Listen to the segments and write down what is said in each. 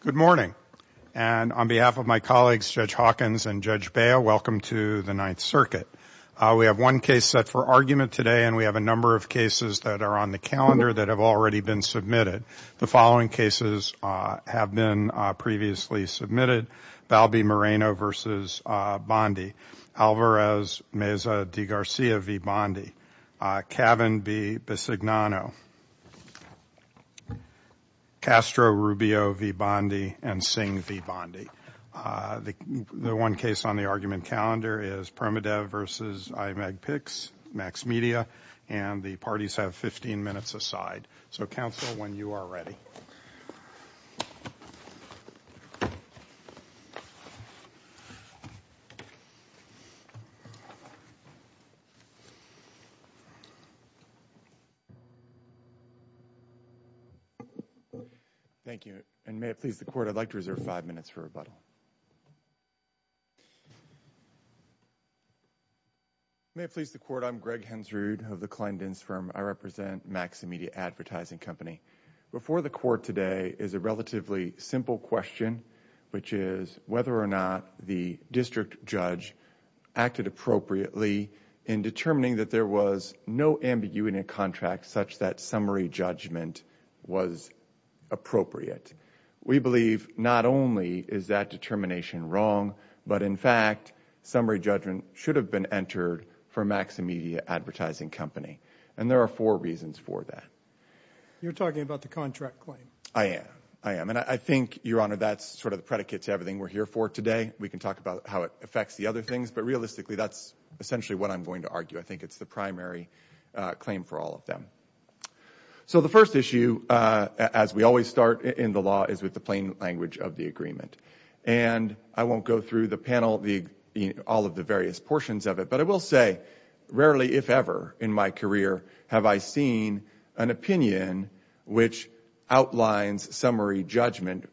Good morning, and on behalf of my colleagues, Judge Hawkins and Judge Bail, welcome to the Ninth Circuit. We have one case set for argument today, and we have a number of cases that are on the calendar that have already been submitted. The following cases have been previously submitted. Balbi Moreno v. Bondi, Alvarez Meza de Garcia v. Bondi, Cavan v. Bisignano, Castro, Rubio v. Bondi, and Singh v. Bondi. The one case on the argument calendar is Permadev v. IMAGPICS, MaXXiMedia, and the parties have 15 minutes aside. So counsel, when you are ready. Thank you, and may it please the Court, I'd like to reserve five minutes for rebuttal. May it please the Court, I'm Greg Hensrud of the Kleindienst Firm. I represent MaXXiMedia Advertising Company. Before the Court today is a relatively simple question, which is whether or not the district judge acted appropriately in determining that there was no ambiguity in a contract such that summary judgment was appropriate. We believe not only is that determination wrong, but in fact, summary judgment should have been entered for MaXXiMedia Advertising Company, and there are four reasons for that. You're talking about the contract claim. I am. I am, and I think, Your Honor, that's sort of the predicate to everything we're here for today. We can talk about how it affects the other things, but realistically, that's essentially what I'm going to argue. I think it's the primary claim for all of them. So the first issue, as we always start in the law, is with the plain language of the agreement, and I won't go through the panel, all of the various portions of it, but I will say, rarely, if ever, in my career have I seen an opinion which outlines summary judgment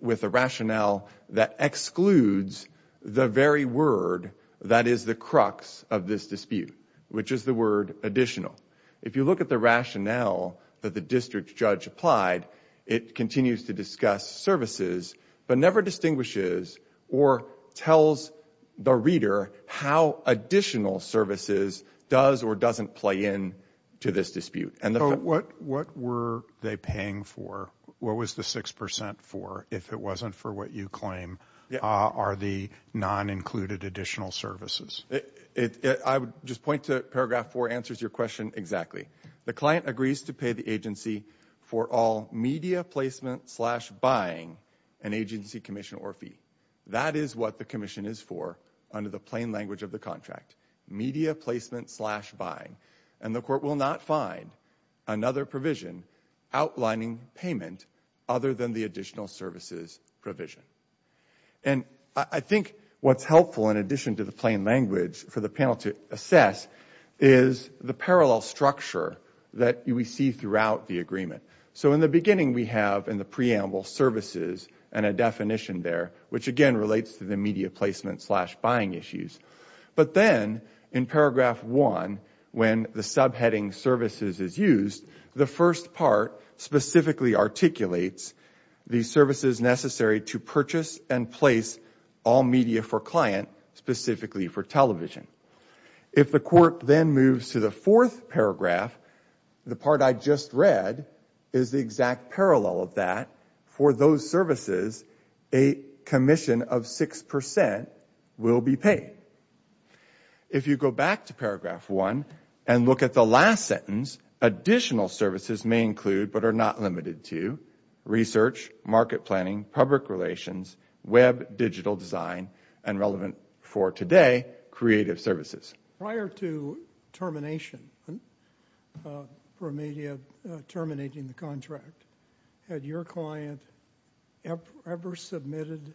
with a rationale that excludes the very word that is the crux of this dispute, which is the word additional. If you look at the rationale that the district judge applied, it continues to discuss services, but never distinguishes or tells the reader how additional services does or doesn't play in to this dispute. What were they paying for? What was the 6% for, if it wasn't for what you claim? Are the non-included additional services? I would just point to paragraph 4 answers your question exactly. The client agrees to pay the agency for all media placement slash buying an agency commission or fee. That is what the commission is for under the plain language of the contract. Media placement slash buying, and the court will not find another provision outlining payment other than the additional services provision. And I think what's helpful in addition to the plain language for the panel to assess is the parallel structure that we see throughout the agreement. So in the beginning we have in the preamble services and a definition there, which again relates to the media placement slash buying issues, but then in paragraph 1, when the subheading services is used, the first part specifically articulates the services necessary to purchase and place all media for client, specifically for television. If the court then moves to the fourth paragraph, the part I just read is the exact parallel of that. For those services, a commission of 6% will be paid. If you go back to paragraph 1 and look at the last sentence, additional services may include, but are not limited to, research, market planning, public relations, web digital design, and relevant for today, creative services. Prior to termination for media terminating the contract, had your client ever submitted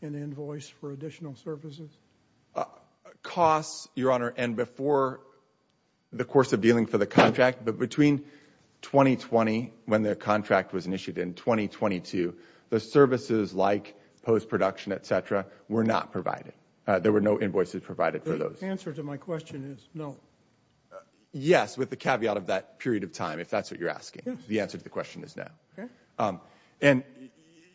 an invoice for additional services? Costs, Your Honor, and before the course of dealing for the contract, but between 2020 when the contract was initiated in 2022, the services like post-production, etc. were not provided. There were no invoices provided for those. The answer to my question is no. Yes, with the caveat of that period of time, if that's what you're asking. The answer to the question is no. And,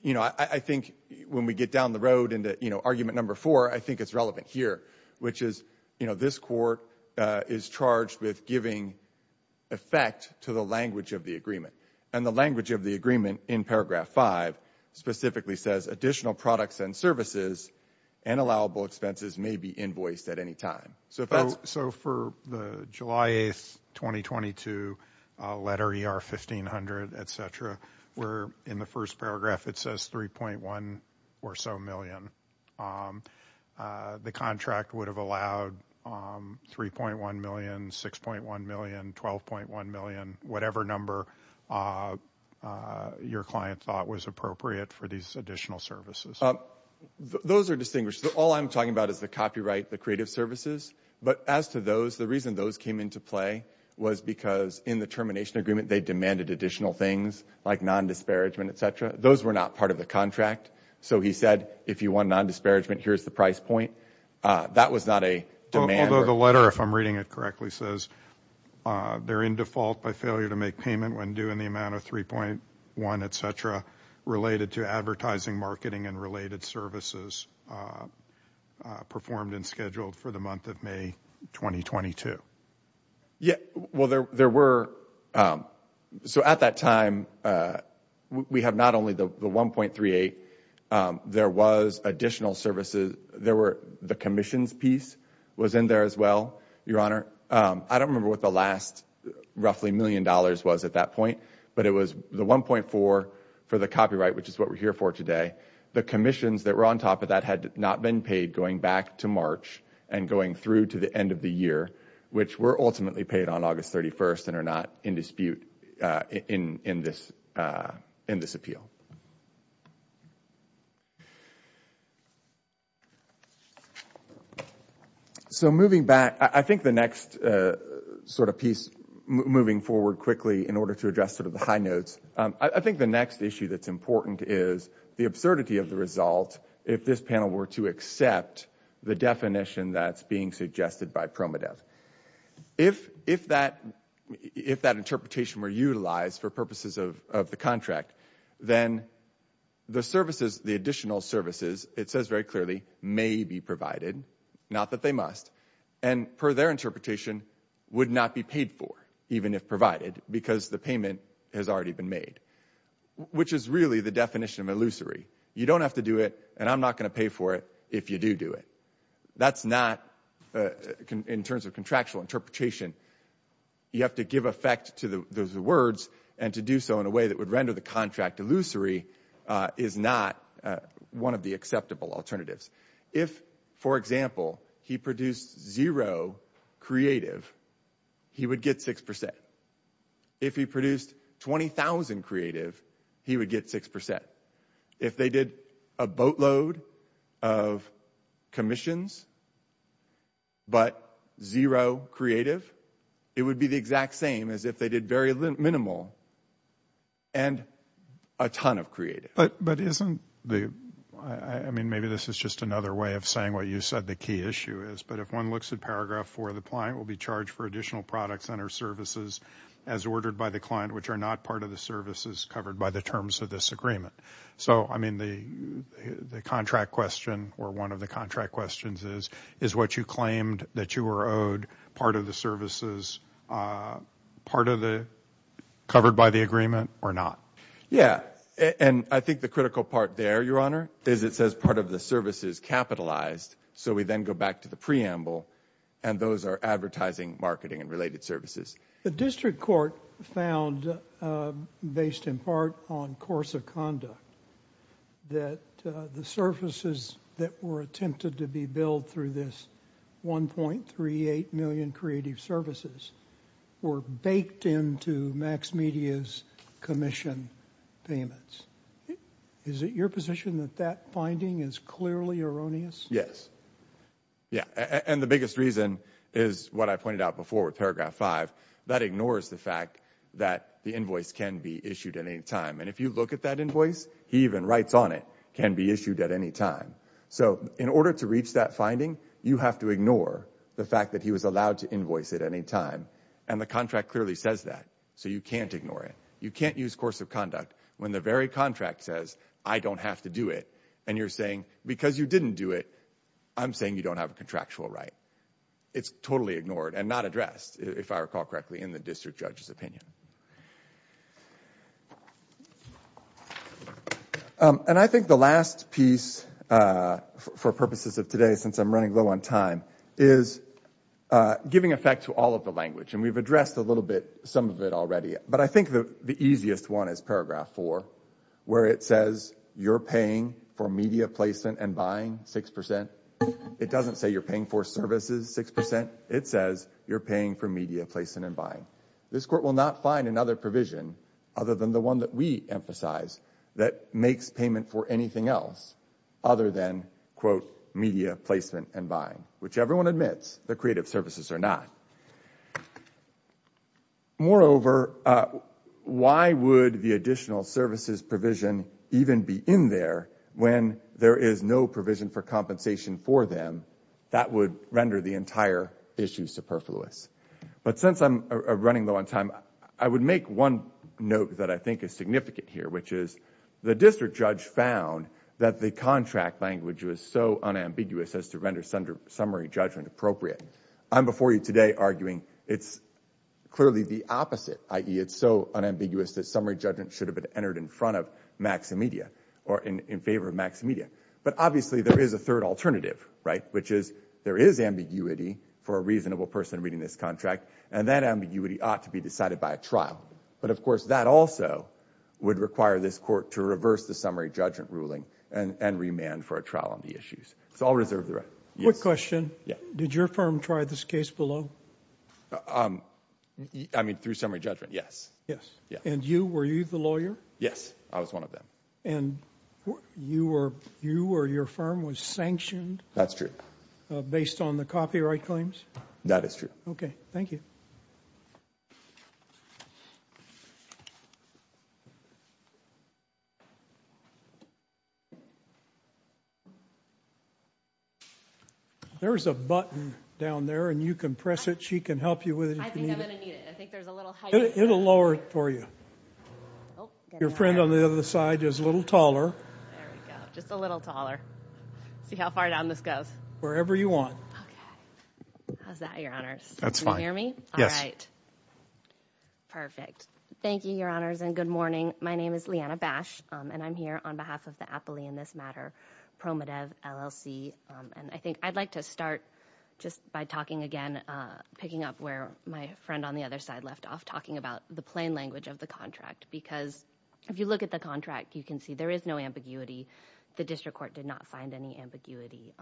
you know, I think when we get down the road into, you know, argument number four, I think it's relevant here, which is, you know, this court is charged with giving effect to the language of the agreement. And the language of the agreement in paragraph five specifically says additional products and services and allowable expenses may be invoiced at any time. So for the July 8th, 2022 letter ER 1500, etc., where in the first paragraph it says 3.1 or so million, the contract would have allowed 3.1 million, 6.1 million, 12.1 million, whatever number your client thought was appropriate for these additional services. Those are distinguished. All I'm talking about is the copyright, the creative services. But as to those, the reason those came into play was because in the termination agreement, they demanded additional things like non-disparagement, etc. Those were not part of the contract. So he said if you want non-disparagement, here's the price point. That was not a demand. Although the letter, if I'm reading it correctly, says they're in default by failure to make payment when due in the amount of 3.1, etc., related to advertising, marketing, and related services performed and scheduled for the month of May 2022. Yeah, well, there were. So at that time, we have not only the 1.38, there was additional services, there were the commissions piece was in there as well, Your Honor. I don't remember what the last roughly million dollars was at that point, but it was the 1.4 for the copyright, which is what we're here for today. The commissions that were on top of that had not been paid going back to March and going through to the end of the year, which were ultimately paid on August 31st and are not in dispute in this appeal. So moving back, I think the next sort of piece, moving forward quickly in order to address sort of the high notes, I think the next issue that's important is the absurdity of the result. If this panel were to accept the definition that's being suggested by PROMEDEV, if that interpretation were utilized for purposes of the contract, then the services, the additional services, it says very clearly, may be provided, not that they must. And per their interpretation, would not be paid for even if provided because the payment has already been made, which is really the definition of illusory. You don't have to do it and I'm not going to pay for it if you do do it. That's not in terms of contractual interpretation. You have to give effect to those words and to do so in a way that would render the contract illusory is not one of the acceptable alternatives. If, for example, he produced zero creative, he would get six percent. If he produced 20,000 creative, he would get six percent. If they did a boatload of commissions. But zero creative, it would be the exact same as if they did very minimal. And a ton of creative, but but isn't the I mean, maybe this is just another way of saying what you said the key issue is, but if one looks at paragraph four, the client will be charged for additional products and or services as ordered by the client, which are not part of the services covered by the terms of this agreement. So, I mean, the the contract question or one of the contract questions is, is what you claimed that you were owed part of the services, part of the covered by the agreement or not? Yeah. And I think the critical part there, Your Honor, is it says part of the services capitalized. So we then go back to the preamble and those are advertising, marketing and related services. The district court found, based in part on course of conduct, that the services that were attempted to be billed through this one point three eight million creative services were baked into MaxMedia's commission payments. Is it your position that that finding is clearly erroneous? Yes. Yeah. And the biggest reason is what I pointed out before with paragraph five, that ignores the fact that the invoice can be issued at any time. And if you look at that invoice, he even writes on it can be issued at any time. So in order to reach that finding, you have to ignore the fact that he was allowed to invoice at any time. And the contract clearly says that. So you can't ignore it. You can't use course of conduct when the very contract says I don't have to do it. And you're saying because you didn't do it, I'm saying you don't have a contractual right. It's totally ignored and not addressed, if I recall correctly, in the district judge's opinion. And I think the last piece for purposes of today, since I'm running low on time, is giving effect to all of the language. And we've addressed a little bit some of it already. But I think the easiest one is paragraph four, where it says you're paying for media placement and buying six percent. It doesn't say you're paying for services six percent. It says you're paying for media placement and buying. This court will not find another provision other than the one that we emphasize that makes payment for anything else other than, quote, media placement and buying, which everyone admits the creative services are not. Moreover, why would the additional services provision even be in there when there is no provision for compensation for them? That would render the entire issue superfluous. But since I'm running low on time, I would make one note that I think is significant here, which is the district judge found that the contract language was so unambiguous as to render summary judgment appropriate. I'm before you today arguing it's clearly the opposite, i.e. it's so unambiguous that summary judgment should have been entered in front of Max and Media or in favor of Max and Media. But obviously, there is a third alternative, right, which is there is ambiguity for a reasonable person reading this contract. And that ambiguity ought to be decided by a trial. But of course, that also would require this court to reverse the summary judgment ruling and remand for a trial on the issues. So I'll reserve the right. Quick question. Did your firm try this case below? I mean, through summary judgment, yes. Yes. And you, were you the lawyer? Yes, I was one of them. And you or your firm was sanctioned? That's true. Based on the copyright claims? That is true. OK, thank you. There is a button down there and you can press it. She can help you with it. I think I'm going to need it. I think there's a little height. It'll lower it for you. Your friend on the other side is a little taller. Just a little taller. See how far down this goes. Wherever you want. How's that, Your Honors? That's fine. You hear me? Yes. Perfect. Thank you, Your Honors. And good morning. My name is Leanna Bash and I'm here on behalf of the Appley in this matter, Promodev LLC. And I think I'd like to start just by talking again, picking up where my friend on the other side left off, talking about the plain language of the contract, because if you look at the contract, you can see there is no ambiguity. The district court did not find any ambiguity.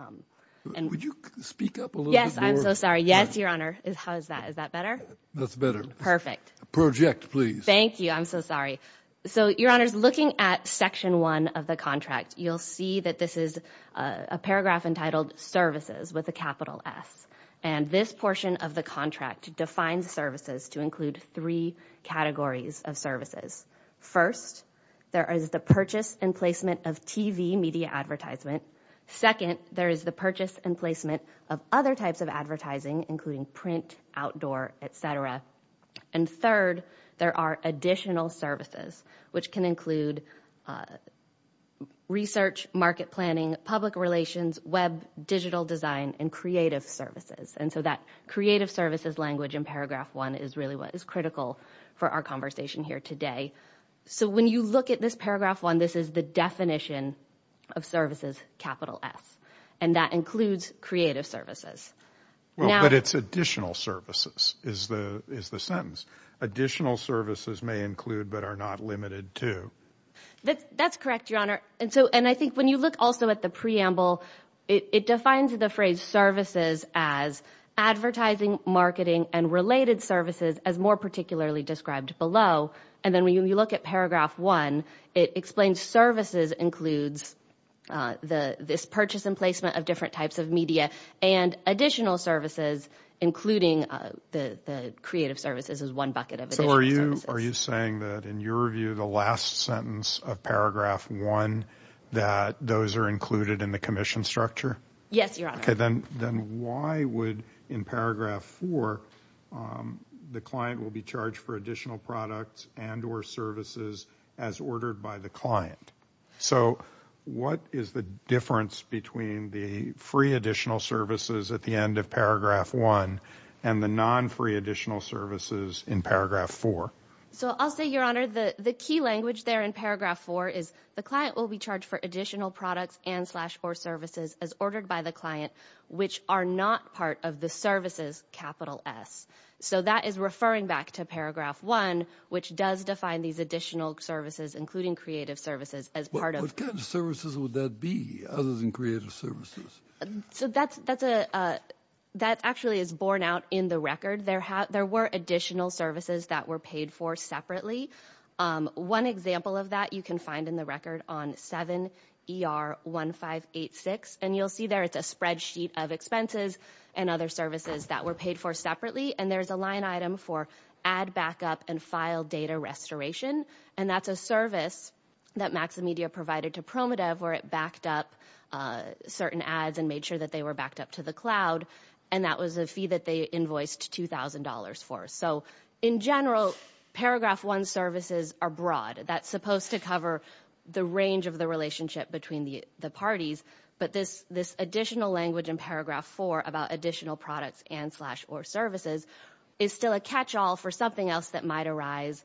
And would you speak up a little bit? Yes. I'm so sorry. Yes, Your Honor. How is that? Is that better? That's better. Perfect. Project, please. Thank you. I'm so sorry. So, Your Honors, looking at section one of the contract, you'll see that this is a paragraph entitled Services with a capital S. And this portion of the contract defines services to include three categories of First, there is the purchase and placement of TV media advertisement. Second, there is the purchase and placement of other types of advertising, including print, outdoor, et cetera. And third, there are additional services, which can include research, market planning, public relations, web, digital design and creative services. And so that creative services language in paragraph one is really what is critical for our conversation here today. So when you look at this paragraph one, this is the definition of services, capital S, and that includes creative services. Well, but it's additional services is the is the sentence additional services may include, but are not limited to. That's correct, Your Honor. And so and I think when you look also at the preamble, it defines the phrase services as advertising, marketing and related services as more particularly described below. And then when you look at paragraph one, it explains services includes the this purchase and placement of different types of media and additional services, including the creative services as one bucket of additional services. Are you saying that in your view, the last sentence of paragraph one, that those are included in the commission structure? Yes, Your Honor. OK, then then why would in paragraph four the client will be charged for additional products and or services as ordered by the client? So what is the difference between the free additional services at the end of paragraph one and the non-free additional services in paragraph four? So I'll say, Your Honor, the the key language there in paragraph four is the client will be charged for additional products and or services as ordered by the client, which are not part of the services. Capital S. So that is referring back to paragraph one, which does define these additional services, including creative services as part of services. Would that be other than creative services? So that's that's a that actually is borne out in the record. There there were additional services that were paid for separately. One example of that you can find in the record on 7ER1586. And you'll see there it's a spreadsheet of expenses and other services that were paid for separately. And there's a line item for ad backup and file data restoration. And that's a service that Maximedia provided to Promodev where it backed up certain ads and made sure that they were backed up to the cloud. And that was a fee that they invoiced two thousand dollars for. So in general, paragraph one services are broad. That's supposed to cover the range of the relationship between the parties. But this this additional language in paragraph four about additional products and slash or services is still a catch all for something else that might arise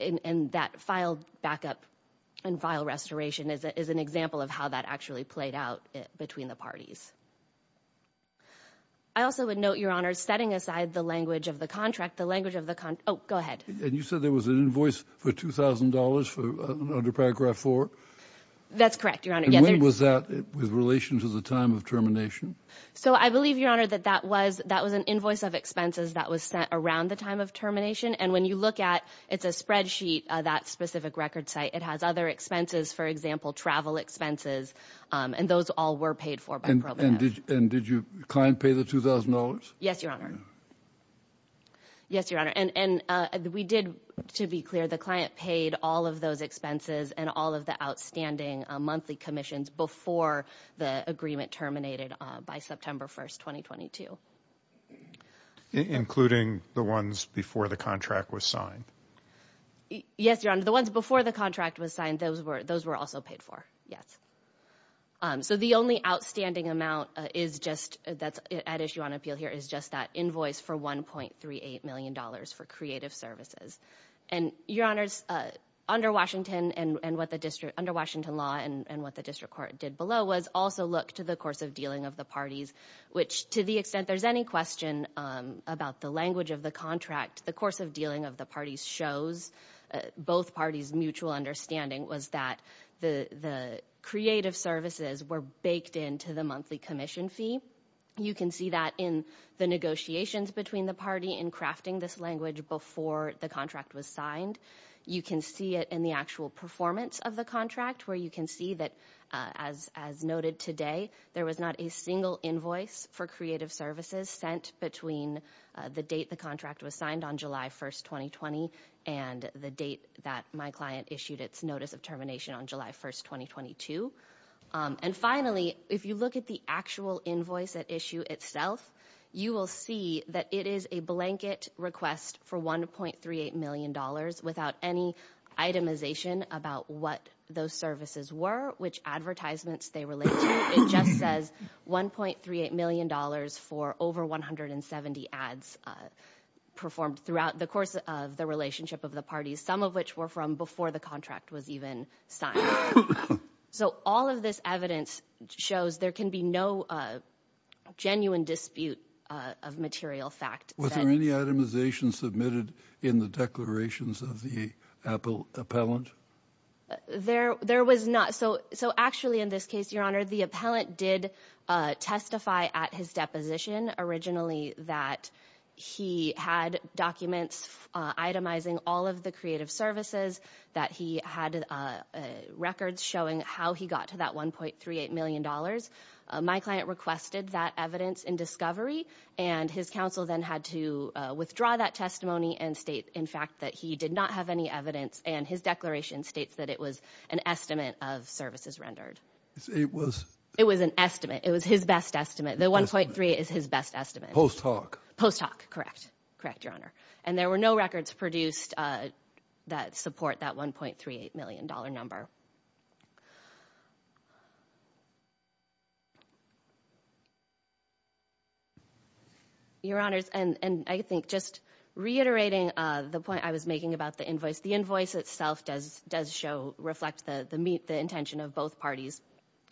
in that file backup and file restoration is an example of how that actually played out between the parties. I also would note, your honor, setting aside the language of the contract, the language of the oh, go ahead. And you said there was an invoice for two thousand dollars for under paragraph four. That's correct, your honor. Yes, it was that with relation to the time of termination. So I believe, your honor, that that was that was an invoice of expenses that was sent around the time of termination. And when you look at it's a spreadsheet, that specific record site, it has other expenses, for example, travel expenses. And those all were paid for. And did you kind of pay the two thousand dollars? Yes, your honor. Yes, your honor. And we did, to be clear, the client paid all of those expenses and all of the outstanding monthly commissions before the agreement terminated by September 1st, twenty, twenty two, including the ones before the contract was signed. Yes, your honor, the ones before the contract was signed, those were those were also paid for. Yes. So the only outstanding amount is just that's at issue on appeal here is just that invoice for one point three eight million dollars for creative services and your honors under Washington and what the district under Washington law and what the district court did below was also look to the course of dealing of the parties, which to the extent there's any question about the language of the contract, the course of creative services were baked into the monthly commission fee. You can see that in the negotiations between the party in crafting this language before the contract was signed. You can see it in the actual performance of the contract where you can see that, as as noted today, there was not a single invoice for creative services sent between the date the contract was signed on July 1st, twenty, twenty, and the date that my client issued its notice of termination on July 1st, twenty, twenty two. And finally, if you look at the actual invoice at issue itself, you will see that it is a blanket request for one point three eight million dollars without any itemization about what those services were, which advertisements they relate to. It just says one point three eight million dollars for over one hundred and seventy ads performed throughout the course of the relationship of the parties, some of which were from before the contract was even signed. So all of this evidence shows there can be no genuine dispute of material fact. Was there any itemization submitted in the declarations of the Apple appellant? There there was not. So so actually, in this case, your honor, the appellant did testify at his deposition originally that he had documents itemizing all of the creative services, that he had records showing how he got to that one point three eight million dollars. My client requested that evidence in discovery and his counsel then had to withdraw that testimony and state, in fact, that he did not have any evidence. And his declaration states that it was an estimate of services rendered. It was it was an estimate. It was his best estimate. The one point three is his best estimate post hoc post hoc. Correct. Correct, your honor. And there were no records produced that support that one point three eight million dollar number. Your honors, and I think just reiterating the point I was making about the invoice, the invoice itself does does show reflect the intention of both parties.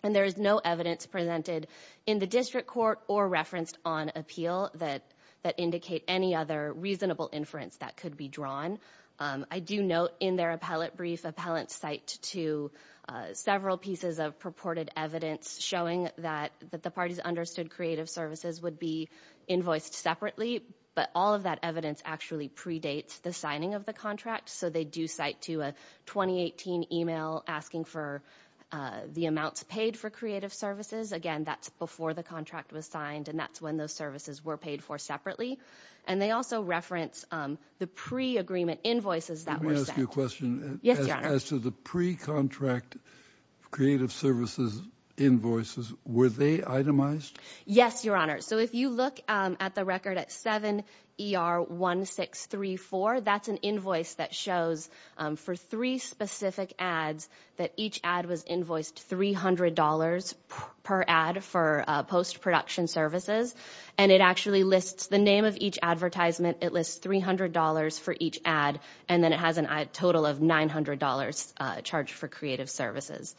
And there is no evidence presented in the district court or referenced on appeal that that indicate any other reasonable inference that could be drawn. I do note in their appellate brief, appellants cite to several pieces of purported evidence showing that that the parties understood creative services would be invoiced separately. But all of that evidence actually predates the signing of the contract. So they do cite to a twenty eighteen email asking for the amounts paid for creative services. Again, that's before the contract was signed and that's when those services were paid for separately. And they also reference the pre agreement invoices that were a question as to the pre contract creative services invoices. Were they itemized? Yes, your honor. So if you look at the record at seven ER one six three four, that's an invoice that shows for three specific ads that each ad was invoiced three hundred dollars per ad for post production services. And it actually lists the name of each advertisement. It lists three hundred dollars for each ad, and then it has a total of nine hundred dollars charged for creative services.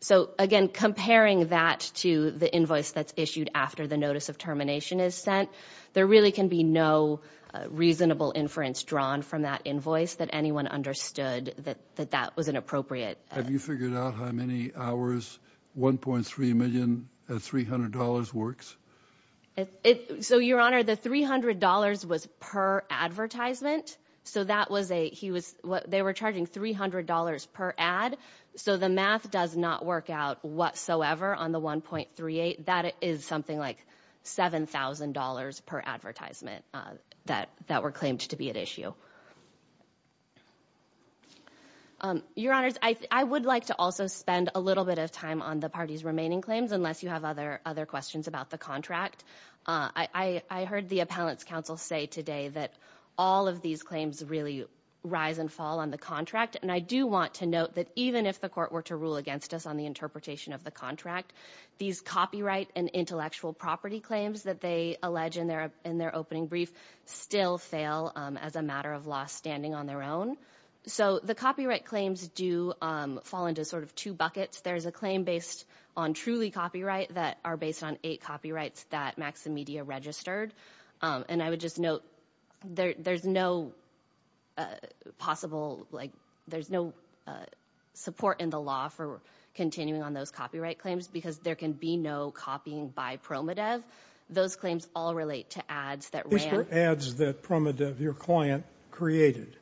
So, again, comparing that to the invoice that's issued after the notice of termination is sent, there really can be no reasonable inference drawn from that invoice that anyone understood that that was inappropriate. Have you figured out how many hours one point three million three hundred dollars works? So, your honor, the three hundred dollars was per advertisement. So that was a he was they were charging three hundred dollars per ad. So the math does not work out whatsoever on the one point three eight. That is something like seven thousand dollars per advertisement that that were claimed to be at issue. Your honors, I would like to also spend a little bit of time on the party's remaining claims, unless you have other other questions about the contract. I heard the appellant's counsel say today that all of these claims really rise and fall on the contract. And I do want to note that even if the court were to rule against us on the interpretation of the contract, these copyright and intellectual property claims that they allege in their in their opening brief still fail as a matter of law standing on their own. So the copyright claims do fall into sort of two buckets. There is a claim based on truly copyright that are based on eight copyrights that Maximedia registered. And I would just note there's no possible like there's no support in the law for continuing on those copyright claims because there can be no copying by Promodev. Those claims all relate to ads that were ads that Promodev, your client, created.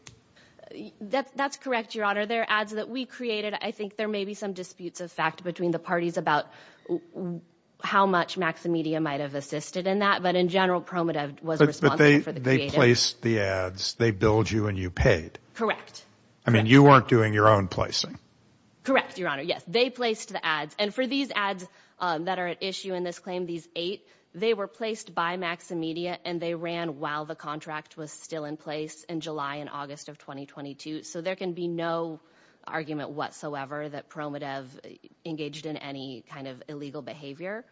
That's correct, your honor. There are ads that we created. I think there may be some disputes of fact between the parties about how much Maximedia might have assisted in that. But in general, Promodev was responsible for the place. The ads, they billed you and you paid. Correct. I mean, you weren't doing your own placing. Correct, your honor. Yes, they placed the ads. And for these ads that are at issue in this claim, these eight, they were placed by Maximedia and they ran while the contract was still in place in July and August of 2022. So there can be no argument whatsoever that Promodev engaged in any kind of illegal behavior.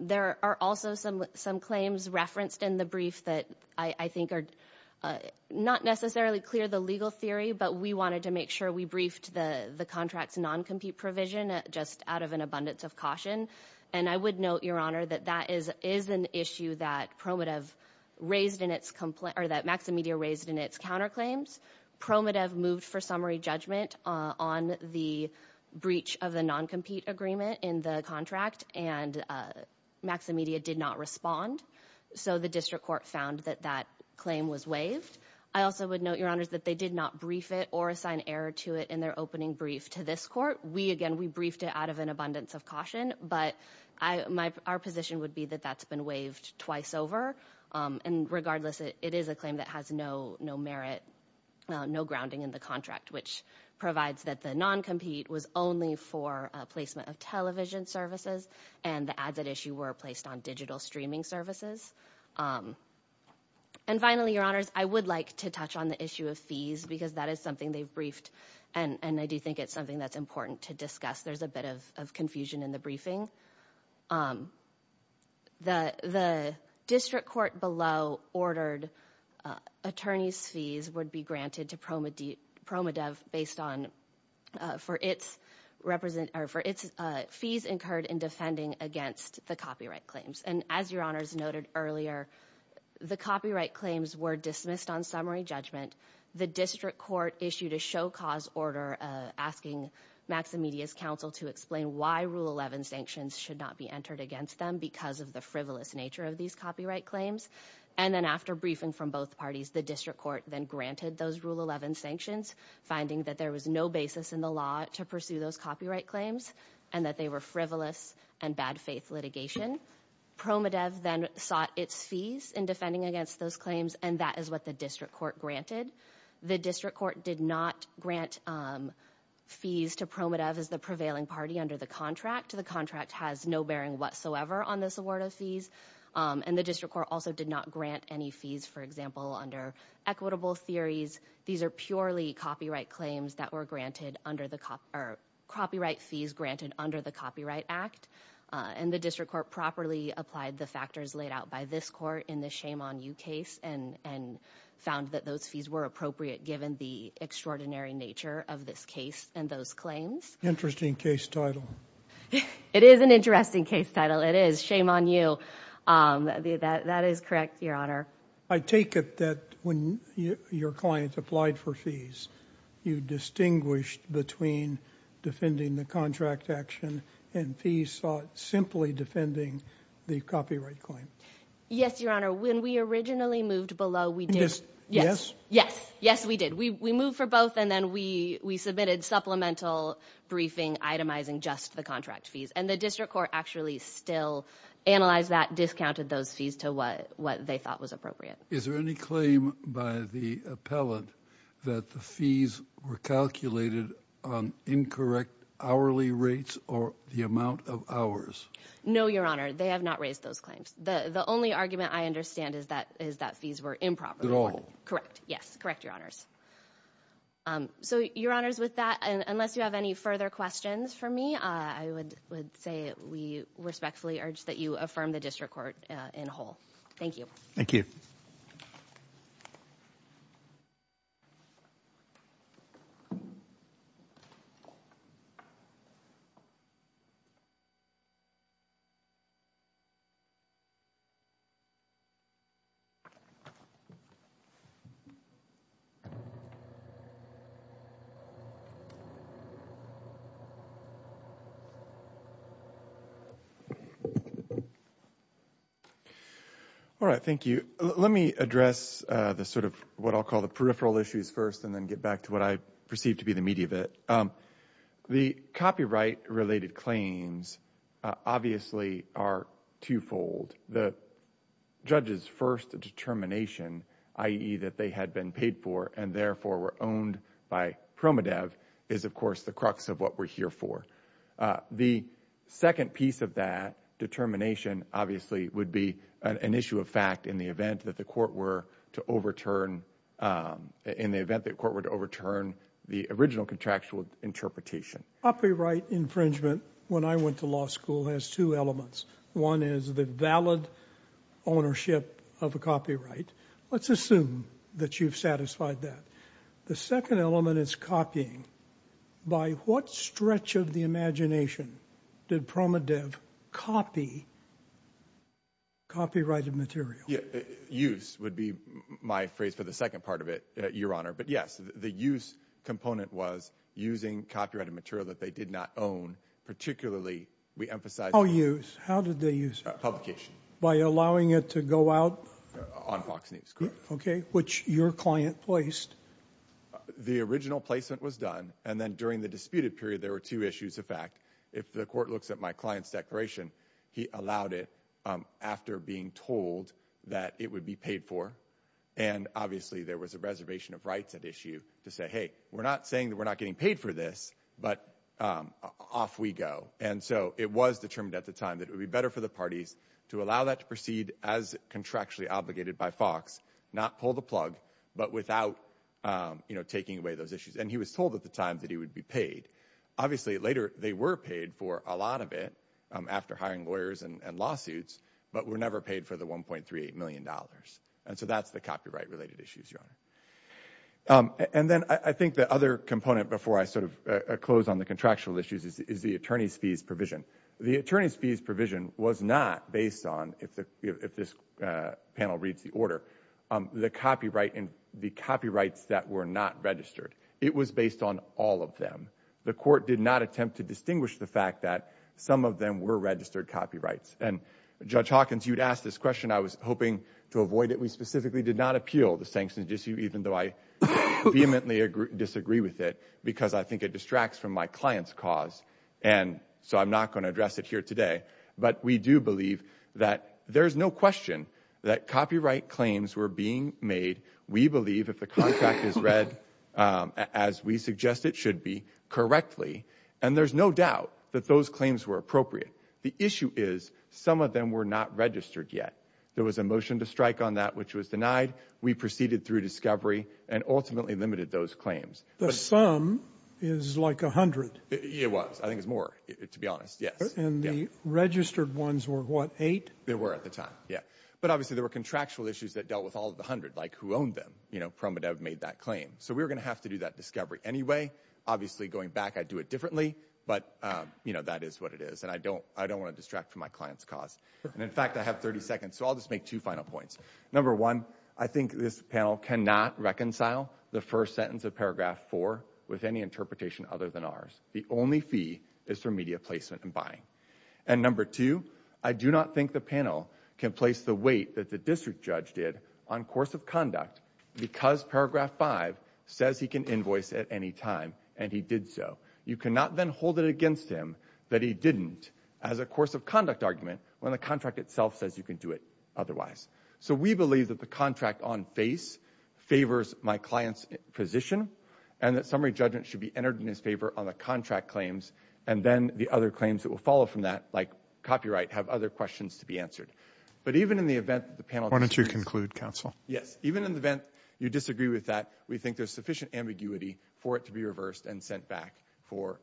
There are also some some claims referenced in the brief that I think are not necessarily clear the legal theory, but we wanted to make sure we briefed the the contract's non-compete provision just out of an abundance of caution. And I would note, your honor, that that is is an issue that Promodev raised in its complaint or that Maximedia raised in its counterclaims. Promodev moved for summary judgment on the breach of the non-compete agreement in the contract and Maximedia did not respond. So the district court found that that claim was waived. I also would note, your honor, that they did not brief it or assign error to it in their opening brief to this court. We again, we briefed it out of an abundance of caution, but our position would be that that's been waived twice over. And regardless, it is a claim that has no no merit, no grounding in the contract, which provides that the non-compete was only for placement of television services and the ads at issue were placed on digital streaming services. And finally, your honors, I would like to touch on the issue of fees because that is something they've briefed and I do think it's something that's important to discuss. There's a bit of confusion in the briefing. The district court below ordered attorney's fees would be granted to Promodev based on for its fees incurred in defending against the copyright claims. And as your honors noted earlier, the copyright claims were dismissed on summary judgment. The district court issued a show cause order asking Maximedia's counsel to explain why rule 11 sanctions should not be entered against them because of the frivolous nature of these copyright claims. And then after briefing from both parties, the district court then granted those rule 11 sanctions, finding that there was no basis in the law to pursue those copyright claims and that they were frivolous and bad faith litigation. Promodev then sought its fees in defending against those claims. And that is what the district court granted. The district court did not grant fees to Promodev as the prevailing party under the contract. The contract has no bearing whatsoever on this award of fees. And the district court also did not grant any fees, for example, under equitable theories. These are purely copyright claims that were granted under the copyright fees granted under the Copyright Act. And the district court properly applied the factors laid out by this court in the Shame on You case and found that those fees were appropriate given the extraordinary nature of this case and those claims. Interesting case title. It is an interesting case title. It is Shame on You. That is correct, Your Honor. I take it that when your client applied for fees, you distinguished between defending the contract action and fees simply defending the copyright claim. Yes, Your Honor, when we originally moved below, we did. Yes, yes, yes, we did. We moved for both. And then we we submitted supplemental briefing itemizing just the contract fees. And the district court actually still analyzed that, discounted those fees to what what they thought was appropriate. Is there any claim by the appellate that the fees were calculated on incorrect hourly rates or the amount of hours? No, Your Honor. They have not raised those claims. The only argument I understand is that is that fees were improper. At all. Correct. Yes, correct, Your Honors. So, Your Honors, with that, unless you have any further questions for me, I would say we respectfully urge that you affirm the district court in whole. Thank you. Thank you. All right. Thank you. Let me address the sort of what I'll call the peripheral issues first and then get back to what I perceive to be the meat of it. The copyright related claims obviously are twofold. The judge's first determination, i.e. that they had been paid for and therefore were owned by Promodev, is, of course, the crux of what we're here for. The second piece of that determination obviously would be an issue of fact in the event that the court were to overturn in the event that court would overturn the original contractual interpretation. Copyright infringement when I went to law school has two elements. One is the valid ownership of a copyright. Let's assume that you've satisfied that. The second element is copying. By what stretch of the imagination did Promodev copy copyrighted material? Use would be my phrase for the second part of it, Your Honor. But yes, the use component was using copyrighted material that they did not own. Particularly, we emphasize. How use? How did they use it? Publication. By allowing it to go out? On Fox News. Okay. Which your client placed. The original placement was done. And then during the disputed period, there were two issues of fact. If the court looks at my client's declaration, he allowed it after being told that it would be paid for. And obviously, there was a reservation of rights at issue to say, hey, we're not saying that we're not getting paid for this, but off we go. And so it was determined at the time that it would be better for the parties to allow that to proceed as contractually obligated by Fox, not pull the plug, but without taking away those issues. And he was told at the time that he would be paid. Obviously, later they were paid for a lot of it after hiring lawyers and lawsuits, but were never paid for the one point three eight million dollars. And so that's the copyright related issues. And then I think the other component before I sort of close on the contractual issues is the attorney's fees provision. The attorney's fees provision was not based on, if this panel reads the order, the copyright and the copyrights that were not registered. It was based on all of them. The court did not attempt to distinguish the fact that some of them were registered copyrights. And Judge Hawkins, you'd asked this question. I was hoping to avoid it. We specifically did not appeal the sanctions issue, even though I vehemently disagree with it because I think it distracts from my client's cause. And so I'm not going to address it here today. But we do believe that there is no question that copyright claims were being made. We believe if the contract is read as we suggest it should be correctly. And there's no doubt that those claims were appropriate. The issue is some of them were not registered yet. There was a motion to strike on that, which was denied. We proceeded through discovery and ultimately limited those claims. The sum is like a hundred. It was. I think it's more, to be honest. Yes. And the registered ones were what, eight? They were at the time. Yeah. But obviously there were contractual issues that dealt with all of the hundred, like who owned them. You know, Promodev made that claim. So we're going to have to do that discovery anyway. Obviously, going back, I'd do it differently. But, you know, that is what it is. And I don't I don't want to distract from my client's cause. And in fact, I have 30 seconds. So I'll just make two final points. Number one, I think this panel cannot reconcile the first sentence of paragraph four with any interpretation other than ours. The only fee is for media placement and buying. And number two, I do not think the panel can place the weight that the district judge did on course of conduct because paragraph five says he can invoice at any time. And he did so. You cannot then hold it against him that he didn't as a course of conduct argument when the contract itself says you can do it otherwise. So we believe that the contract on face favors my client's position and that summary judgment should be entered in his favor on the contract claims and then the other claims that will follow from that, like copyright, have other questions to be answered. But even in the event the panel wanted to conclude counsel. Yes. Even in the event you disagree with that, we think there's sufficient ambiguity for it to be reversed and sent back for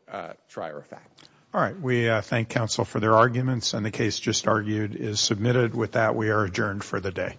trier effect. All right. We thank counsel for their arguments. And the case just argued is submitted. With that, we are adjourned for the day.